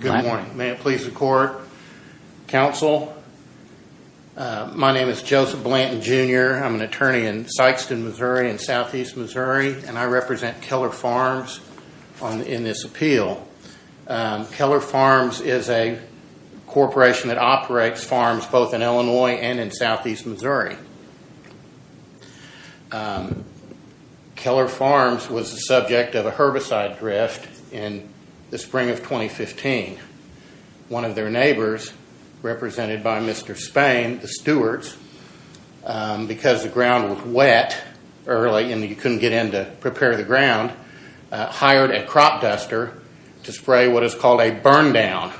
Good morning. May it please the court. Counsel, my name is Joseph Blanton Jr. I'm an attorney in Sykeston, Missouri, in southeast Missouri, and I represent Keller Farms in this appeal. Keller Farms is a corporation that operates farms both in Illinois and in southeast Missouri. Keller Farms was the subject of a herbicide drift in the spring of 2015. One of their neighbors, represented by Mr. Spain, the stewards, because the ground was wet early and you couldn't get in to prepare the ground, hired a crop duster to spray what is called a burndown,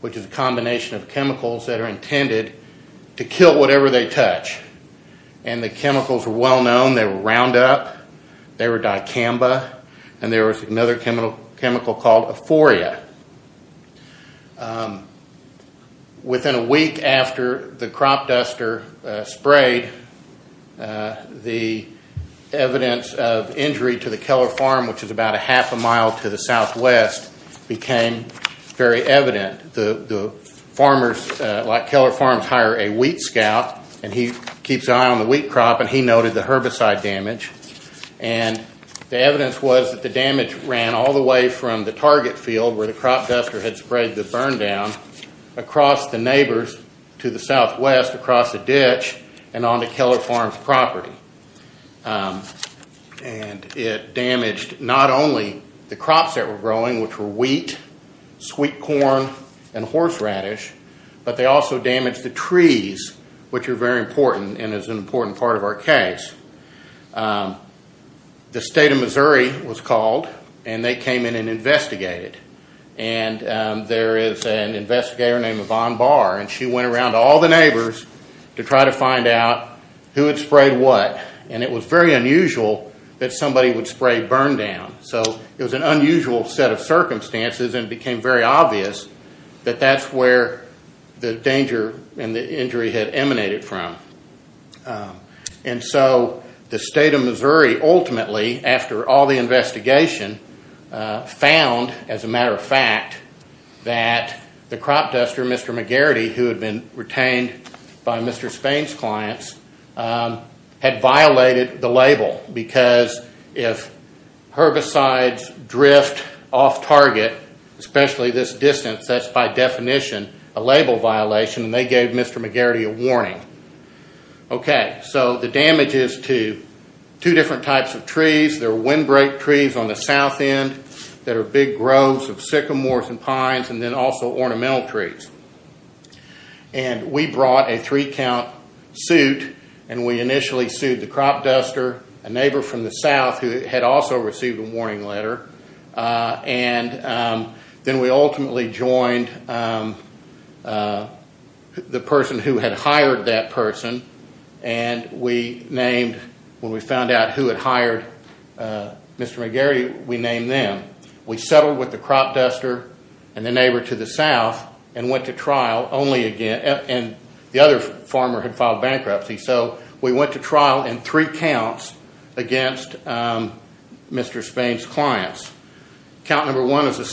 which is a combination of chemicals that are intended to kill whatever they touch. And the chemicals were well known. They were Roundup, they were Dicamba, and there was another chemical called Aphoria. Within a week after the crop duster sprayed, the evidence of injury to the Keller Farm, which is about a half a mile to the southwest, became very evident. The farmers, like Keller Farms, hire a wheat scout, and he keeps an eye on the wheat crop, and he noted the herbicide damage. And the evidence was that the damage ran all the way from the target field, where the crop duster had sprayed the burndown, across the neighbors to the southwest, across the ditch, and onto Keller Farms' property. And it damaged not only the crops that were growing, which were wheat, sweet corn, and horseradish, but they also damaged the trees, which are very important and is an important part of our case. The state of Missouri was called, and they came in and investigated. And there is an investigator named Yvonne Barr, and she went around to all the neighbors to try to find out who had sprayed what. And it was very unusual that somebody would spray burndown. So it was an unusual set of circumstances, and it became very obvious that that's where the danger and the injury had emanated from. And so the state of Missouri, ultimately, after all the investigation, found, as a matter of fact, that the crop duster, Mr. McGarity, who had been retained by Mr. Spain's clients, had violated the label. Because if herbicides drift off target, especially this distance, that's by definition a label violation, and they gave Mr. McGarity a warning. Okay, so the damage is to two different types of trees. There are windbreak trees on the south end that are big groves of sycamores and pines, and then also ornamental trees. And we brought a three-count suit, and we initially sued the crop duster, a neighbor from the south who had also received a warning letter, and then we ultimately joined the person who had hired that person. And we named, when we found out who had hired Mr. McGarity, we named them. We settled with the crop duster and the neighbor to the south and went to trial only again. And the other farmer had filed bankruptcy, so we went to trial in three counts against Mr. Spain's clients. Count number one was a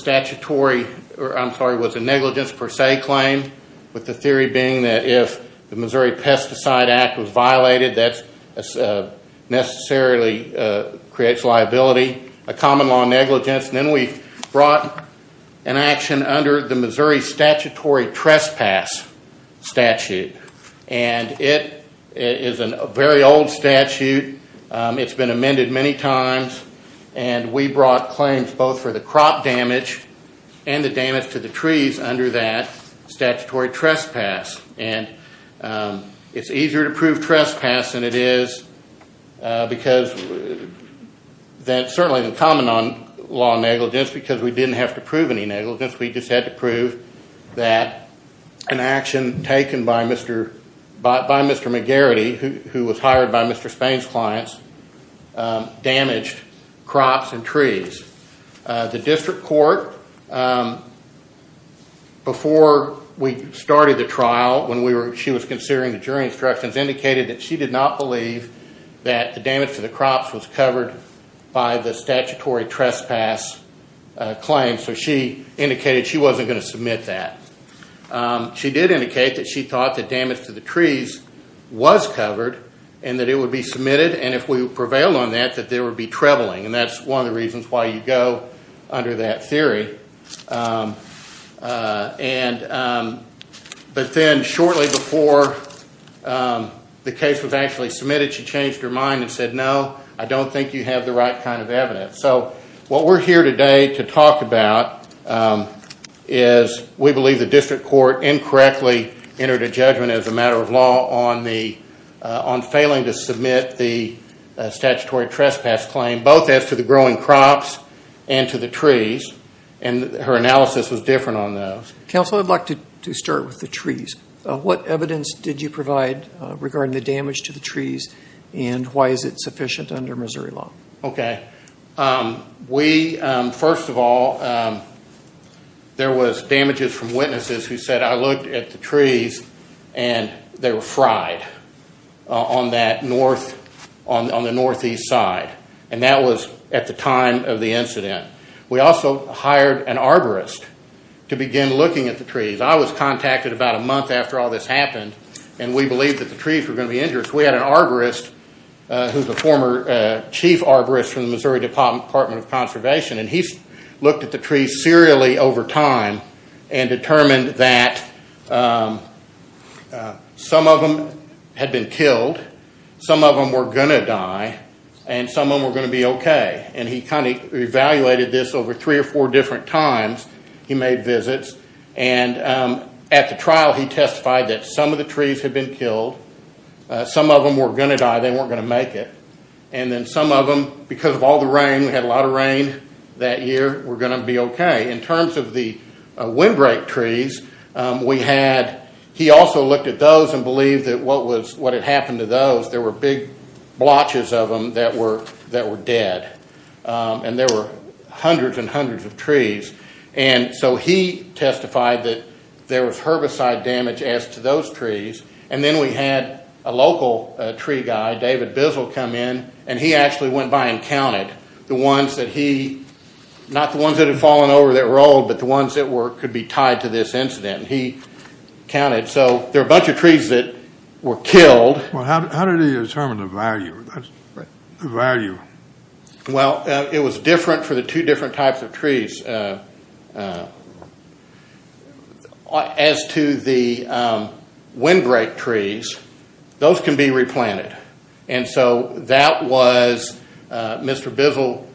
negligence per se claim, with the theory being that if the Missouri Pesticide Act was violated, that necessarily creates liability, a common law negligence. And then we brought an action under the Missouri Statutory Trespass Statute, and it is a very old statute. It's been amended many times, and we brought claims both for the crop damage and the damage to the trees under that statutory trespass. And it's easier to prove trespass than it is because certainly the common law negligence, because we didn't have to prove any negligence. We just had to prove that an action taken by Mr. McGarity, who was hired by Mr. Spain's clients, damaged crops and trees. The district court, before we started the trial, when she was considering the jury instructions, indicated that she did not believe that the damage to the crops was covered by the statutory trespass claim, so she indicated she wasn't going to submit that. She did indicate that she thought that damage to the trees was covered, and that it would be submitted, and if we prevailed on that, that there would be trebling, and that's one of the reasons why you go under that theory. But then shortly before the case was actually submitted, she changed her mind and said, no, I don't think you have the right kind of evidence. So what we're here today to talk about is we believe the district court incorrectly entered a judgment as a matter of law on failing to submit the statutory trespass claim, both as to the growing crops and to the trees, and her analysis was different on those. Counsel, I'd like to start with the trees. What evidence did you provide regarding the damage to the trees, and why is it sufficient under Missouri law? Okay. We, first of all, there was damages from witnesses who said, I looked at the trees and they were fried on the northeast side, and that was at the time of the incident. We also hired an arborist to begin looking at the trees. I was contacted about a month after all this happened, and we believed that the trees were going to be injured. We had an arborist who's a former chief arborist from the Missouri Department of Conservation, and he looked at the trees serially over time and determined that some of them had been killed, some of them were going to die, and some of them were going to be okay. And he kind of evaluated this over three or four different times. He made visits, and at the trial he testified that some of the trees had been killed, some of them were going to die, they weren't going to make it, and then some of them, because of all the rain, we had a lot of rain that year, were going to be okay. In terms of the windbreak trees, we had, he also looked at those and believed that what had happened to those, there were big blotches of them that were dead. And there were hundreds and hundreds of trees. And so he testified that there was herbicide damage as to those trees, and then we had a local tree guy, David Bissel, come in, and he actually went by and counted the ones that he, not the ones that had fallen over that rolled, but the ones that could be tied to this incident. He counted, so there were a bunch of trees that were killed. Well, how did he determine the value? Well, it was different for the two different types of trees. As to the windbreak trees, those can be replanted, and so that was Mr. Bissel,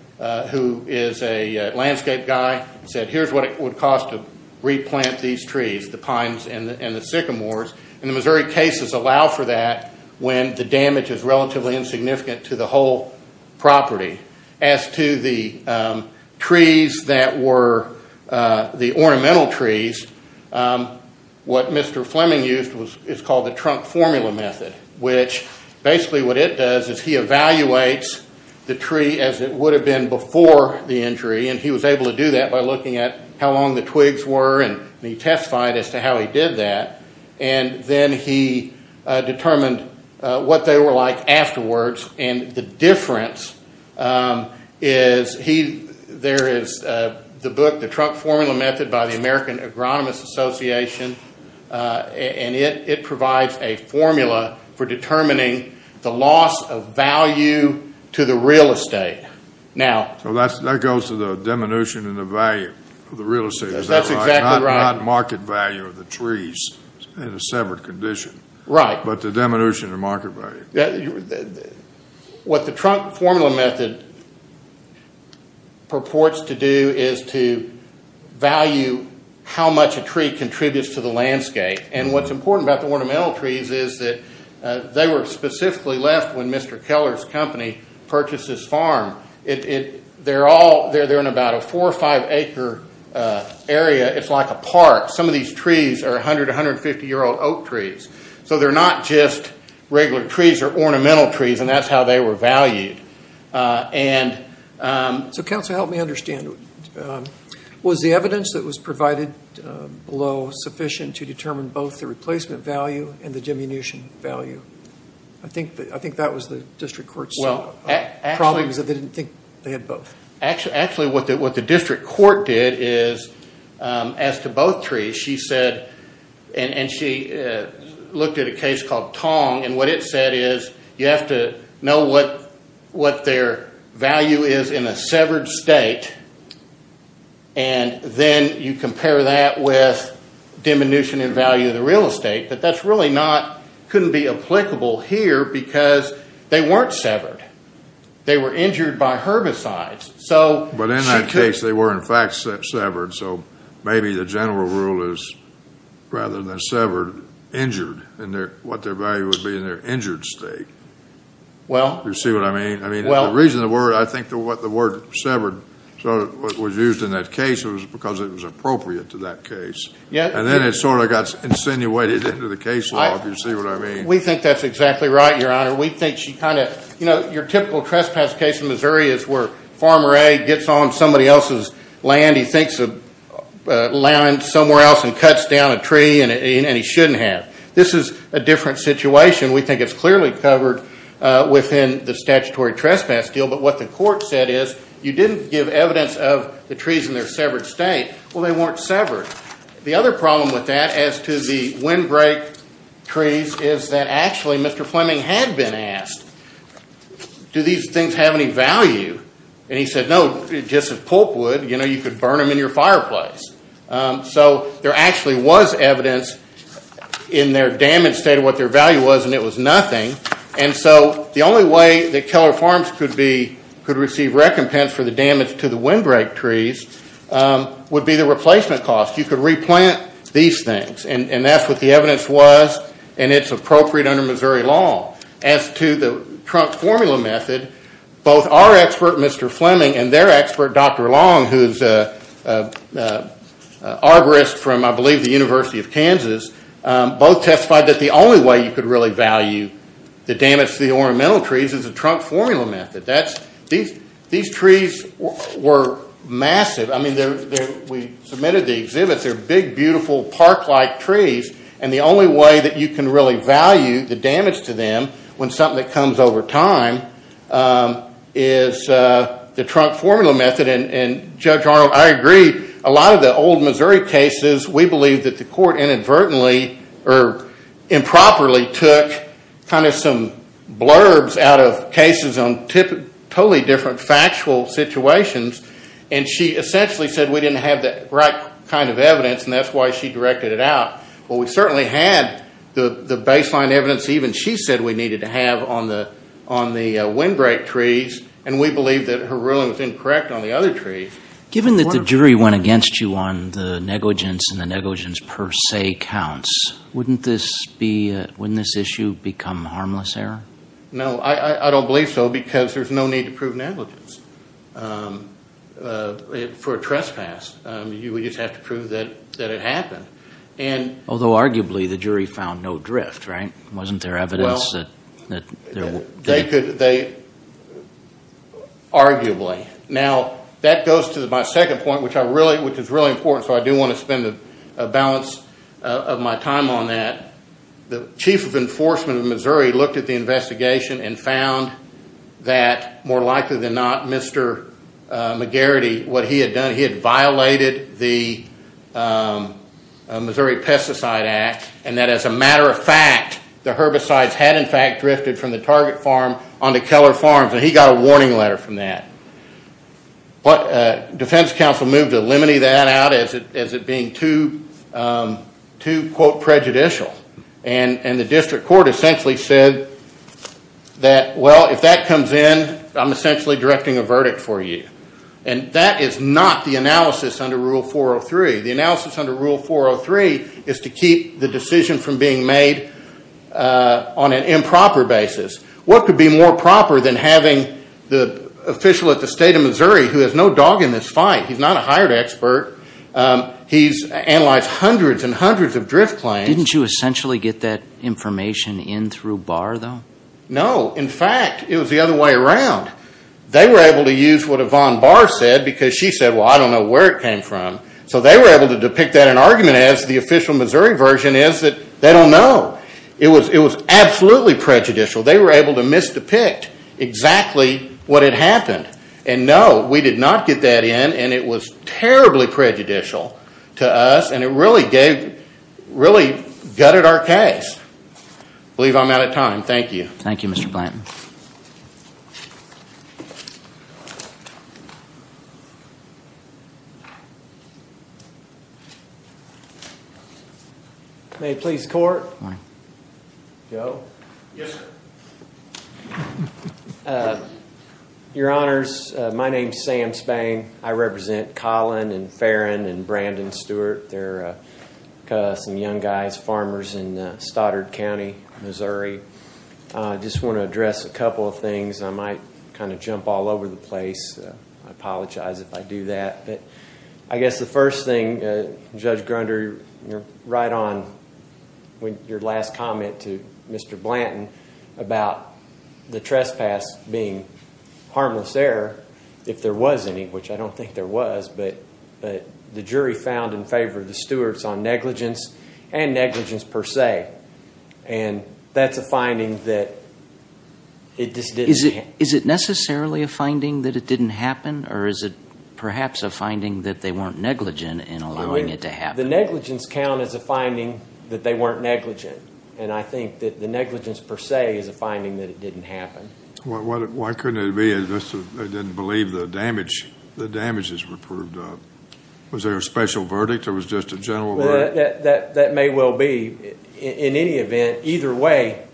who is a landscape guy, said here's what it would cost to replant these trees, the pines and the sycamores. And the Missouri cases allow for that when the damage is relatively insignificant to the whole property. As to the ornamental trees, what Mr. Fleming used is called the trunk formula method, which basically what it does is he evaluates the tree as it would have been before the injury, and he was able to do that by looking at how long the twigs were, and he testified as to how he did that. And then he determined what they were like afterwards, and the difference is there is the book, the trunk formula method by the American Agronomist Association, and it provides a formula for determining the loss of value to the real estate. So that goes to the diminution in the value of the real estate, is that right? Not market value of the trees in a severed condition. Right. But the diminution in market value. What the trunk formula method purports to do is to value how much a tree contributes to the landscape, and what's important about the ornamental trees is that they were specifically left when Mr. Keller's company purchased this farm. They're in about a four or five acre area. It's like a park. Some of these trees are 100, 150-year-old oak trees. So they're not just regular trees. They're ornamental trees, and that's how they were valued. So counsel, help me understand. Was the evidence that was provided below sufficient to determine both the replacement value and the diminution value? I think that was the district court's problem because they didn't think they had both. Actually, what the district court did is, as to both trees, she said, and she looked at a case called Tong, and what it said is you have to know what their value is in a severed state, and then you compare that with diminution in value of the real estate. But that's really not, couldn't be applicable here because they weren't severed. They were injured by herbicides. But in that case, they were, in fact, severed. So maybe the general rule is rather than severed, injured, and what their value would be in their injured state. You see what I mean? I mean, the reason the word, I think the word severed was used in that case was because it was appropriate to that case. And then it sort of got insinuated into the case law, if you see what I mean. We think that's exactly right, Your Honor. We think she kind of, you know, your typical trespass case in Missouri is where Farmer A gets on somebody else's land. He thinks of land somewhere else and cuts down a tree, and he shouldn't have. This is a different situation. We think it's clearly covered within the statutory trespass deal. But what the court said is you didn't give evidence of the trees in their severed state. Well, they weren't severed. The other problem with that as to the windbreak trees is that actually Mr. Fleming had been asked, do these things have any value? And he said, no, just as pulp would. You know, you could burn them in your fireplace. So there actually was evidence in their damaged state of what their value was, and it was nothing. And so the only way that Keller Farms could receive recompense for the damage to the windbreak trees would be the replacement cost. You could replant these things, and that's what the evidence was, and it's appropriate under Missouri law. As to the trunk formula method, both our expert, Mr. Fleming, and their expert, Dr. Long, who's an arborist from, I believe, the University of Kansas, both testified that the only way you could really value the damage to the ornamental trees is the trunk formula method. These trees were massive. I mean, we submitted the exhibits. They're big, beautiful, park-like trees, and the only way that you can really value the damage to them when something that comes over time is the trunk formula method. And, Judge Arnold, I agree. A lot of the old Missouri cases, we believe that the court inadvertently or improperly took kind of some blurbs out of cases on totally different factual situations, and she essentially said we didn't have the right kind of evidence, and that's why she directed it out. Well, we certainly had the baseline evidence even she said we needed to have on the windbreak trees, and we believe that her ruling was incorrect on the other trees. Given that the jury went against you on the negligence and the negligence per se counts, wouldn't this issue become harmless error? No, I don't believe so because there's no need to prove negligence for a trespass. You would just have to prove that it happened. Although, arguably, the jury found no drift, right? Wasn't there evidence that there was? Arguably. Now, that goes to my second point, which is really important, so I do want to spend a balance of my time on that. The chief of enforcement of Missouri looked at the investigation and found that, more likely than not, Mr. McGarrity, what he had done, he had violated the Missouri Pesticide Act, and that as a matter of fact, the herbicides had, in fact, drifted from the Target Farm onto Keller Farms, and he got a warning letter from that. Defense counsel moved to eliminate that out as it being too, quote, prejudicial, and the district court essentially said that, well, if that comes in, I'm essentially directing a verdict for you, and that is not the analysis under Rule 403. The analysis under Rule 403 is to keep the decision from being made on an improper basis. What could be more proper than having the official at the State of Missouri who has no dog in this fight? He's not a hired expert. He's analyzed hundreds and hundreds of drift claims. Didn't you essentially get that information in through Barr, though? No. In fact, it was the other way around. They were able to use what Yvonne Barr said because she said, well, I don't know where it came from, so they were able to depict that in an argument as the official Missouri version is that they don't know. It was absolutely prejudicial. They were able to misdepict exactly what had happened, and no, we did not get that in, and it was terribly prejudicial to us, and it really gutted our case. I believe I'm out of time. Thank you. Thank you, Mr. Blanton. May it please the Court? Go. Yes, sir. Your Honors, my name is Sam Spang. I represent Colin and Farron and Brandon Stewart. They're some young guys, farmers in Stoddard County, Missouri. I just want to address a couple of things. I might kind of jump all over the place. I apologize if I do that. But I guess the first thing, Judge Grunder, right on with your last comment to Mr. Blanton about the trespass being harmless error, if there was any, which I don't think there was, but the jury found in favor of the Stewarts on negligence and negligence per se, and that's a finding that it just didn't happen. Is it necessarily a finding that it didn't happen, or is it perhaps a finding that they weren't negligent in allowing it to happen? The negligence count is a finding that they weren't negligent, and I think that the negligence per se is a finding that it didn't happen. Why couldn't it be that they didn't believe the damages were proved up? Was there a special verdict or was it just a general verdict? That may well be. In any event, either way,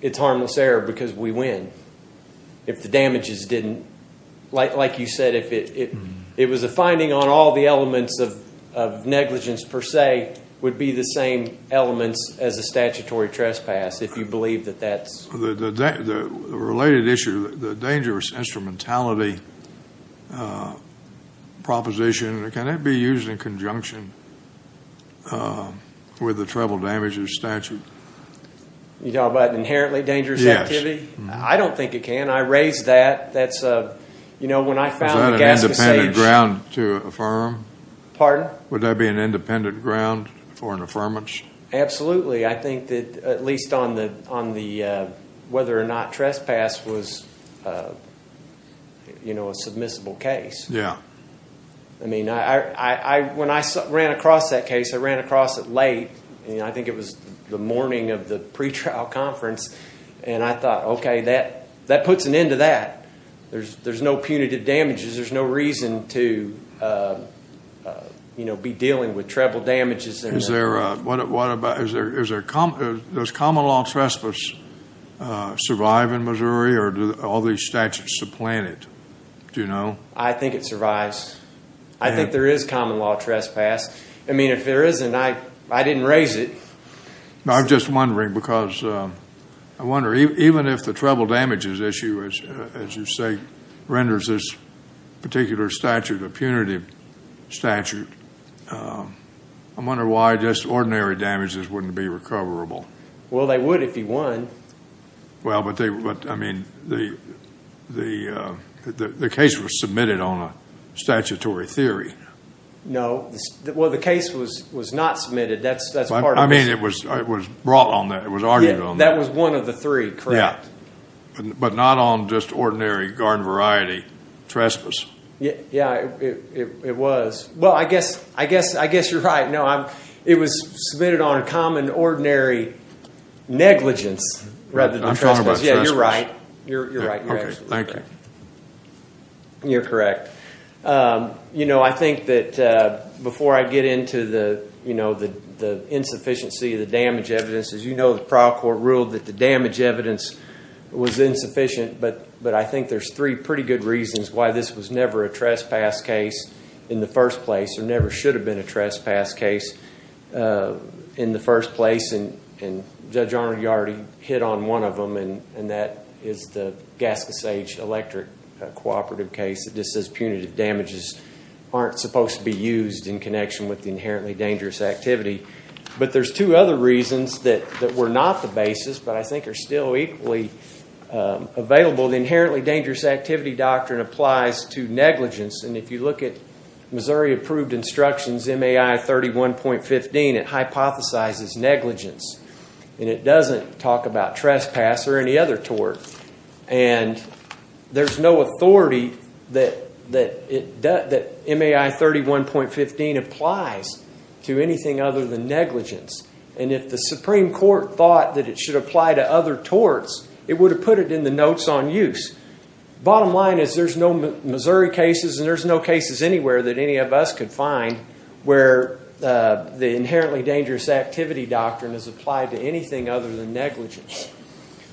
it's harmless error because we win if the damages didn't. Like you said, if it was a finding on all the elements of negligence per se, it would be the same elements as a statutory trespass if you believe that that's. The related issue, the dangerous instrumentality proposition, can it be used in conjunction with the treble damages statute? You're talking about an inherently dangerous activity? Yes. I don't think it can. I raised that. That's a, you know, when I found the Gascon Sage. Is that an independent ground to affirm? Pardon? Would that be an independent ground for an affirmance? Absolutely. I think that at least on the whether or not trespass was, you know, a submissible case. Yeah. I mean, when I ran across that case, I ran across it late. I think it was the morning of the pretrial conference, and I thought, okay, that puts an end to that. There's no punitive damages. There's no reason to, you know, be dealing with treble damages. Does common law trespass survive in Missouri, or do all these statutes supplant it? Do you know? I think it survives. I think there is common law trespass. I mean, if there isn't, I didn't raise it. I'm just wondering, because I wonder, even if the treble damages issue, as you say, renders this particular statute a punitive statute, I wonder why just ordinary damages wouldn't be recoverable. Well, they would if you won. Well, but I mean, the case was submitted on a statutory theory. No. Well, the case was not submitted. That's part of it. I mean, it was brought on that. It was argued on that. That was one of the three, correct? Yeah, but not on just ordinary garden variety trespass. Yeah, it was. Well, I guess you're right. No, it was submitted on a common ordinary negligence rather than trespass. I'm talking about trespass. Yeah, you're right. Okay, thank you. You're correct. You know, I think that before I get into the, you know, the insufficiency of the damage evidence, as you know, the trial court ruled that the damage evidence was insufficient, but I think there's three pretty good reasons why this was never a trespass case in the first place or never should have been a trespass case in the first place. And Judge Arnold, you already hit on one of them, and that is the Gaskissage Electric Cooperative case that just says punitive damages aren't supposed to be used in connection with the inherently dangerous activity. But there's two other reasons that were not the basis but I think are still equally available. The inherently dangerous activity doctrine applies to negligence, and if you look at Missouri approved instructions MAI 31.15, it hypothesizes negligence. And it doesn't talk about trespass or any other tort. And there's no authority that MAI 31.15 applies to anything other than negligence. And if the Supreme Court thought that it should apply to other torts, it would have put it in the notes on use. Bottom line is there's no Missouri cases and there's no cases anywhere that any of us could find where the inherently dangerous activity doctrine is applied to anything other than negligence.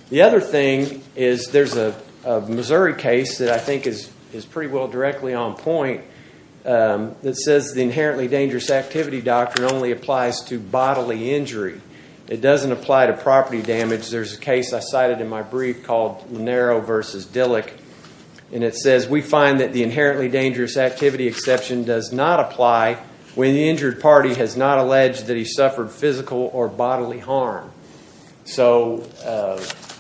The other thing is there's a Missouri case that I think is pretty well directly on point that says the inherently dangerous activity doctrine only applies to bodily injury. It doesn't apply to property damage. There's a case I cited in my brief called Lanero v. Dillick, and it says we find that the inherently dangerous activity exception does not apply when the injured party has not alleged that he suffered physical or bodily harm. So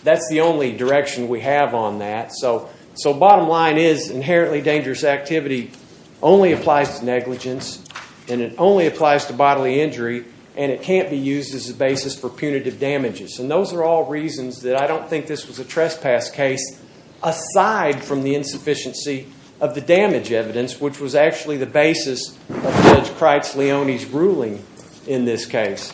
that's the only direction we have on that. So bottom line is inherently dangerous activity only applies to negligence and it only applies to bodily injury and it can't be used as a basis for punitive damages. And those are all reasons that I don't think this was a trespass case aside from the insufficiency of the damage evidence, which was actually the basis of Judge Kreitz-Leone's ruling in this case.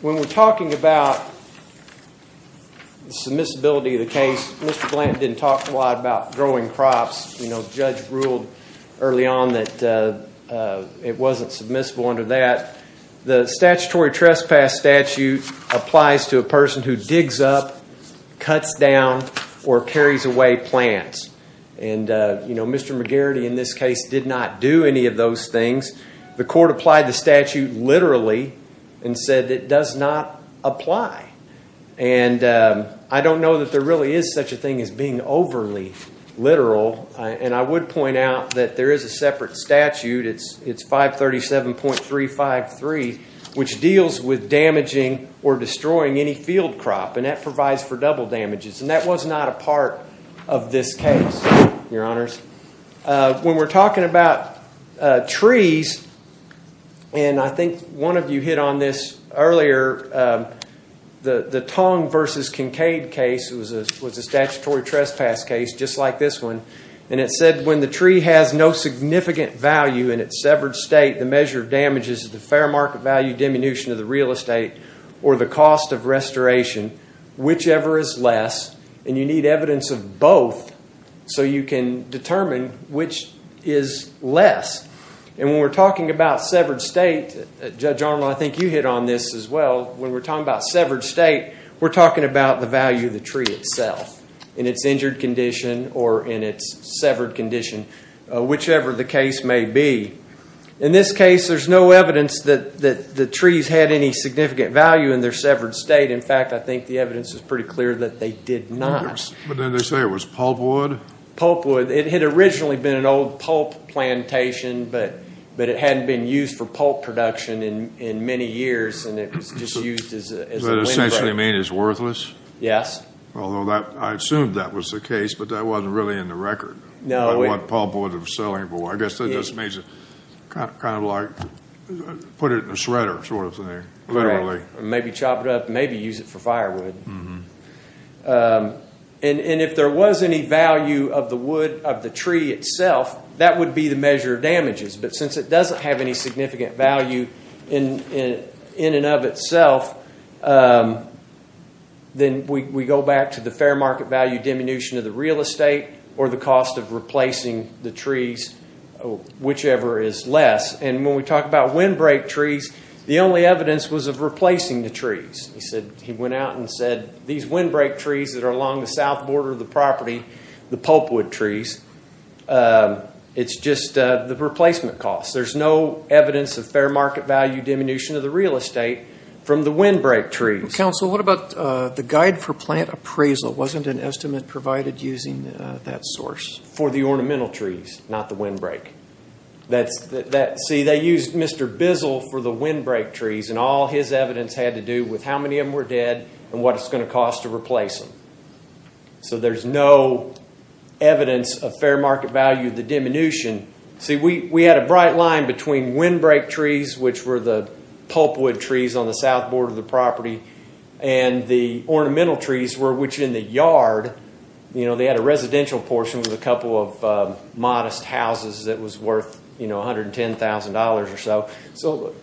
When we're talking about the submissibility of the case, Mr. Blanton didn't talk a lot about growing crops. You know, the judge ruled early on that it wasn't submissible under that. The statutory trespass statute applies to a person who digs up, cuts down, or carries away plants. And, you know, Mr. McGarrity in this case did not do any of those things. The court applied the statute literally and said it does not apply. And I don't know that there really is such a thing as being overly literal, and I would point out that there is a separate statute, it's 537.353, which deals with damaging or destroying any field crop and that provides for double damages. And that was not a part of this case, Your Honors. When we're talking about trees, and I think one of you hit on this earlier, the Tong versus Kincaid case was a statutory trespass case just like this one, and it said when the tree has no significant value in its severed state, the measure of damage is the fair market value diminution of the real estate or the cost of restoration, whichever is less, and you need evidence of both so you can determine which is less. And when we're talking about severed state, Judge Arnold, I think you hit on this as well, when we're talking about severed state, we're talking about the value of the tree itself, in its injured condition or in its severed condition, whichever the case may be. In this case, there's no evidence that the trees had any significant value in their severed state. In fact, I think the evidence is pretty clear that they did not. But didn't they say it was pulpwood? It had originally been an old pulp plantation, but it hadn't been used for pulp production in many years, and it was just used as a windbreak. Does that essentially mean it's worthless? Yes. Although I assumed that was the case, but that wasn't really in the record, what pulpwood was selling for. I guess that just means kind of like put it in a shredder sort of thing, literally. Maybe chop it up, maybe use it for firewood. And if there was any value of the wood, of the tree itself, that would be the measure of damages. But since it doesn't have any significant value in and of itself, then we go back to the fair market value diminution of the real estate or the cost of replacing the trees, whichever is less. And when we talk about windbreak trees, the only evidence was of replacing the trees. He went out and said these windbreak trees that are along the south border of the property, the pulpwood trees, it's just the replacement costs. There's no evidence of fair market value diminution of the real estate from the windbreak trees. Counsel, what about the guide for plant appraisal? Wasn't an estimate provided using that source? For the ornamental trees, not the windbreak. See, they used Mr. Bizzle for the windbreak trees, and all his evidence had to do with how many of them were dead and what it's going to cost to replace them. So there's no evidence of fair market value of the diminution. See, we had a bright line between windbreak trees, which were the pulpwood trees on the south border of the property, and the ornamental trees, which in the yard, they had a residential portion with a couple of modest houses that was worth $110,000 or so.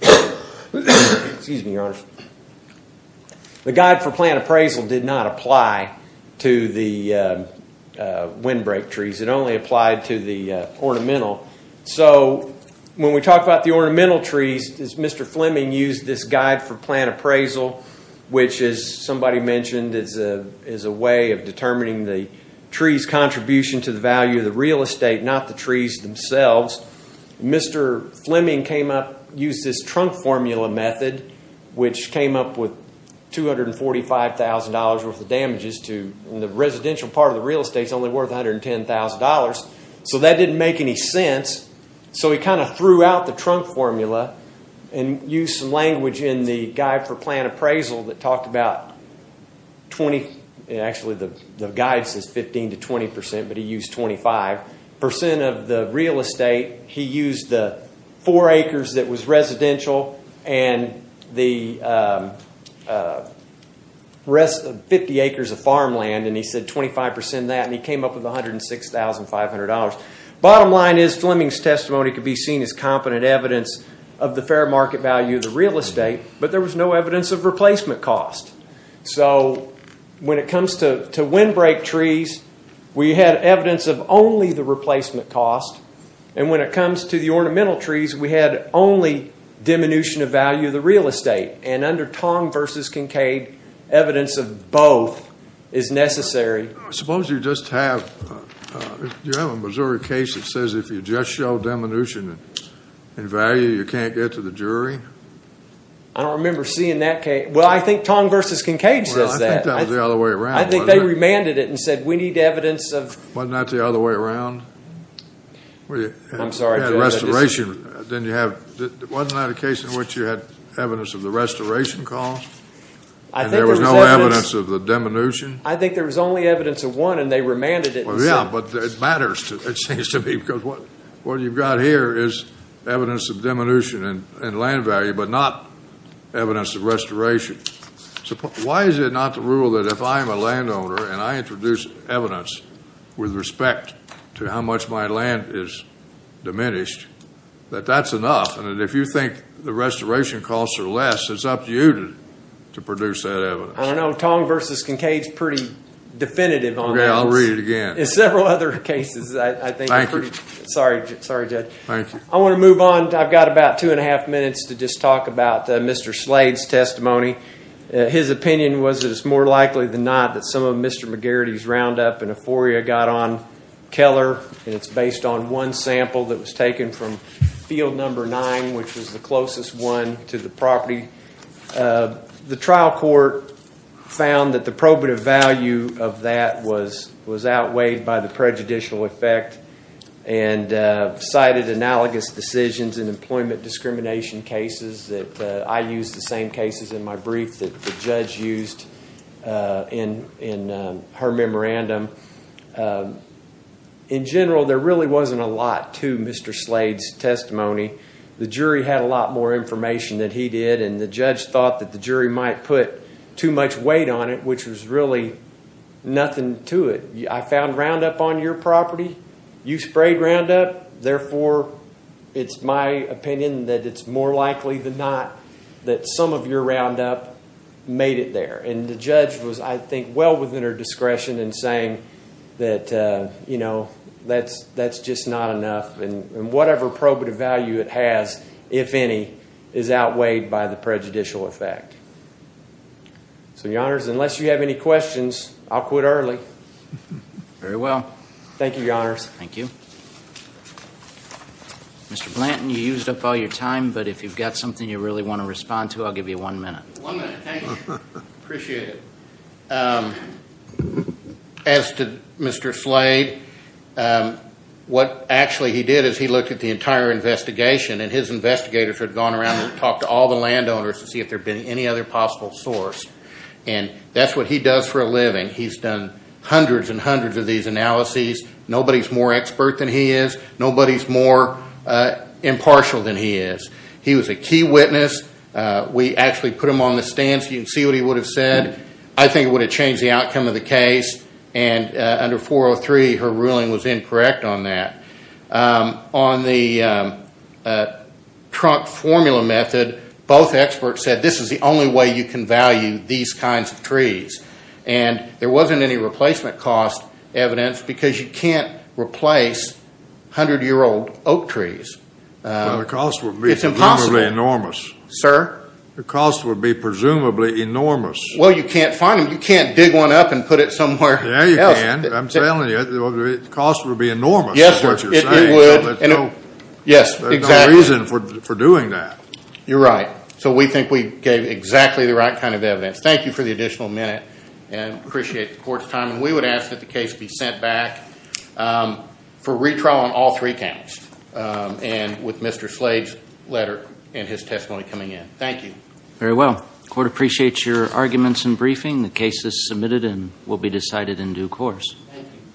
The guide for plant appraisal did not apply to the windbreak trees. It only applied to the ornamental. So when we talk about the ornamental trees, Mr. Fleming used this guide for plant appraisal, which, as somebody mentioned, is a way of determining the tree's contribution to the value of the real estate, not the trees themselves. Mr. Fleming used this trunk formula method, which came up with $245,000 worth of damages, and the residential part of the real estate is only worth $110,000. So that didn't make any sense. So he kind of threw out the trunk formula and used some language in the guide for plant appraisal that talked about 20... Actually, the guide says 15 to 20 percent, but he used 25 percent of the real estate. He used the four acres that was residential and the rest of 50 acres of farmland, and he said 25 percent of that, and he came up with $106,500. Bottom line is Fleming's testimony could be seen as competent evidence of the fair market value of the real estate, but there was no evidence of replacement cost. So when it comes to windbreak trees, we had evidence of only the replacement cost, and when it comes to the ornamental trees, we had only diminution of value of the real estate. And under Tong versus Kincaid, evidence of both is necessary. Suppose you just have a Missouri case that says if you just show diminution in value, you can't get to the jury? I don't remember seeing that case. Well, I think Tong versus Kincaid says that. I think that was the other way around. I think they remanded it and said we need evidence of... Wasn't that the other way around? I'm sorry, Judge. Wasn't that a case in which you had evidence of the restoration cost, and there was no evidence of the diminution? I think there was only evidence of one, and they remanded it. Yeah, but it matters, it seems to me, because what you've got here is evidence of diminution in land value, but not evidence of restoration. Why is it not the rule that if I'm a landowner and I introduce evidence with respect to how much my land is diminished, that that's enough, and if you think the restoration costs are less, it's up to you to produce that evidence. I don't know. Tong versus Kincaid is pretty definitive on that. Okay, I'll read it again. In several other cases, I think you're pretty... Thank you. Sorry, Judge. Thank you. I want to move on. I've got about two and a half minutes to just talk about Mr. Slade's testimony. His opinion was that it's more likely than not that some of Mr. McGarrity's roundup in Euphoria got on Keller, and it's based on one sample that was taken from field number nine, which was the closest one to the property. The trial court found that the probative value of that was outweighed by the prejudicial effect and cited analogous decisions in employment discrimination cases that I used, the same cases in my brief that the judge used in her memorandum. In general, there really wasn't a lot to Mr. Slade's testimony. The jury had a lot more information than he did, and the judge thought that the jury might put too much weight on it, which was really nothing to it. I found roundup on your property. You sprayed roundup. Therefore, it's my opinion that it's more likely than not that some of your roundup made it there, and the judge was, I think, well within her discretion in saying that that's just not enough. And whatever probative value it has, if any, is outweighed by the prejudicial effect. So, Your Honors, unless you have any questions, I'll quit early. Very well. Thank you, Your Honors. Thank you. Mr. Blanton, you used up all your time, but if you've got something you really want to respond to, I'll give you one minute. One minute, thank you. Appreciate it. As to Mr. Slade, what actually he did is he looked at the entire investigation, and his investigators had gone around and talked to all the landowners to see if there had been any other possible source. And that's what he does for a living. He's done hundreds and hundreds of these analyses. Nobody's more expert than he is. Nobody's more impartial than he is. He was a key witness. We actually put him on the stand so you can see what he would have said. I think it would have changed the outcome of the case. And under 403, her ruling was incorrect on that. On the trunk formula method, both experts said this is the only way you can value these kinds of trees. And there wasn't any replacement cost evidence because you can't replace 100-year-old oak trees. The cost would be presumably enormous. Sir? The cost would be presumably enormous. Well, you can't find them. You can't dig one up and put it somewhere else. Yeah, you can. I'm telling you. The cost would be enormous is what you're saying. Yes, sir. It would. Yes, exactly. There's no reason for doing that. You're right. So we think we gave exactly the right kind of evidence. Thank you for the additional minute and appreciate the court's time. And we would ask that the case be sent back for retrial on all three counts and with Mr. Slade's letter and his testimony coming in. Thank you. Very well. The court appreciates your arguments and briefing. The case is submitted and will be decided in due course. Thank you.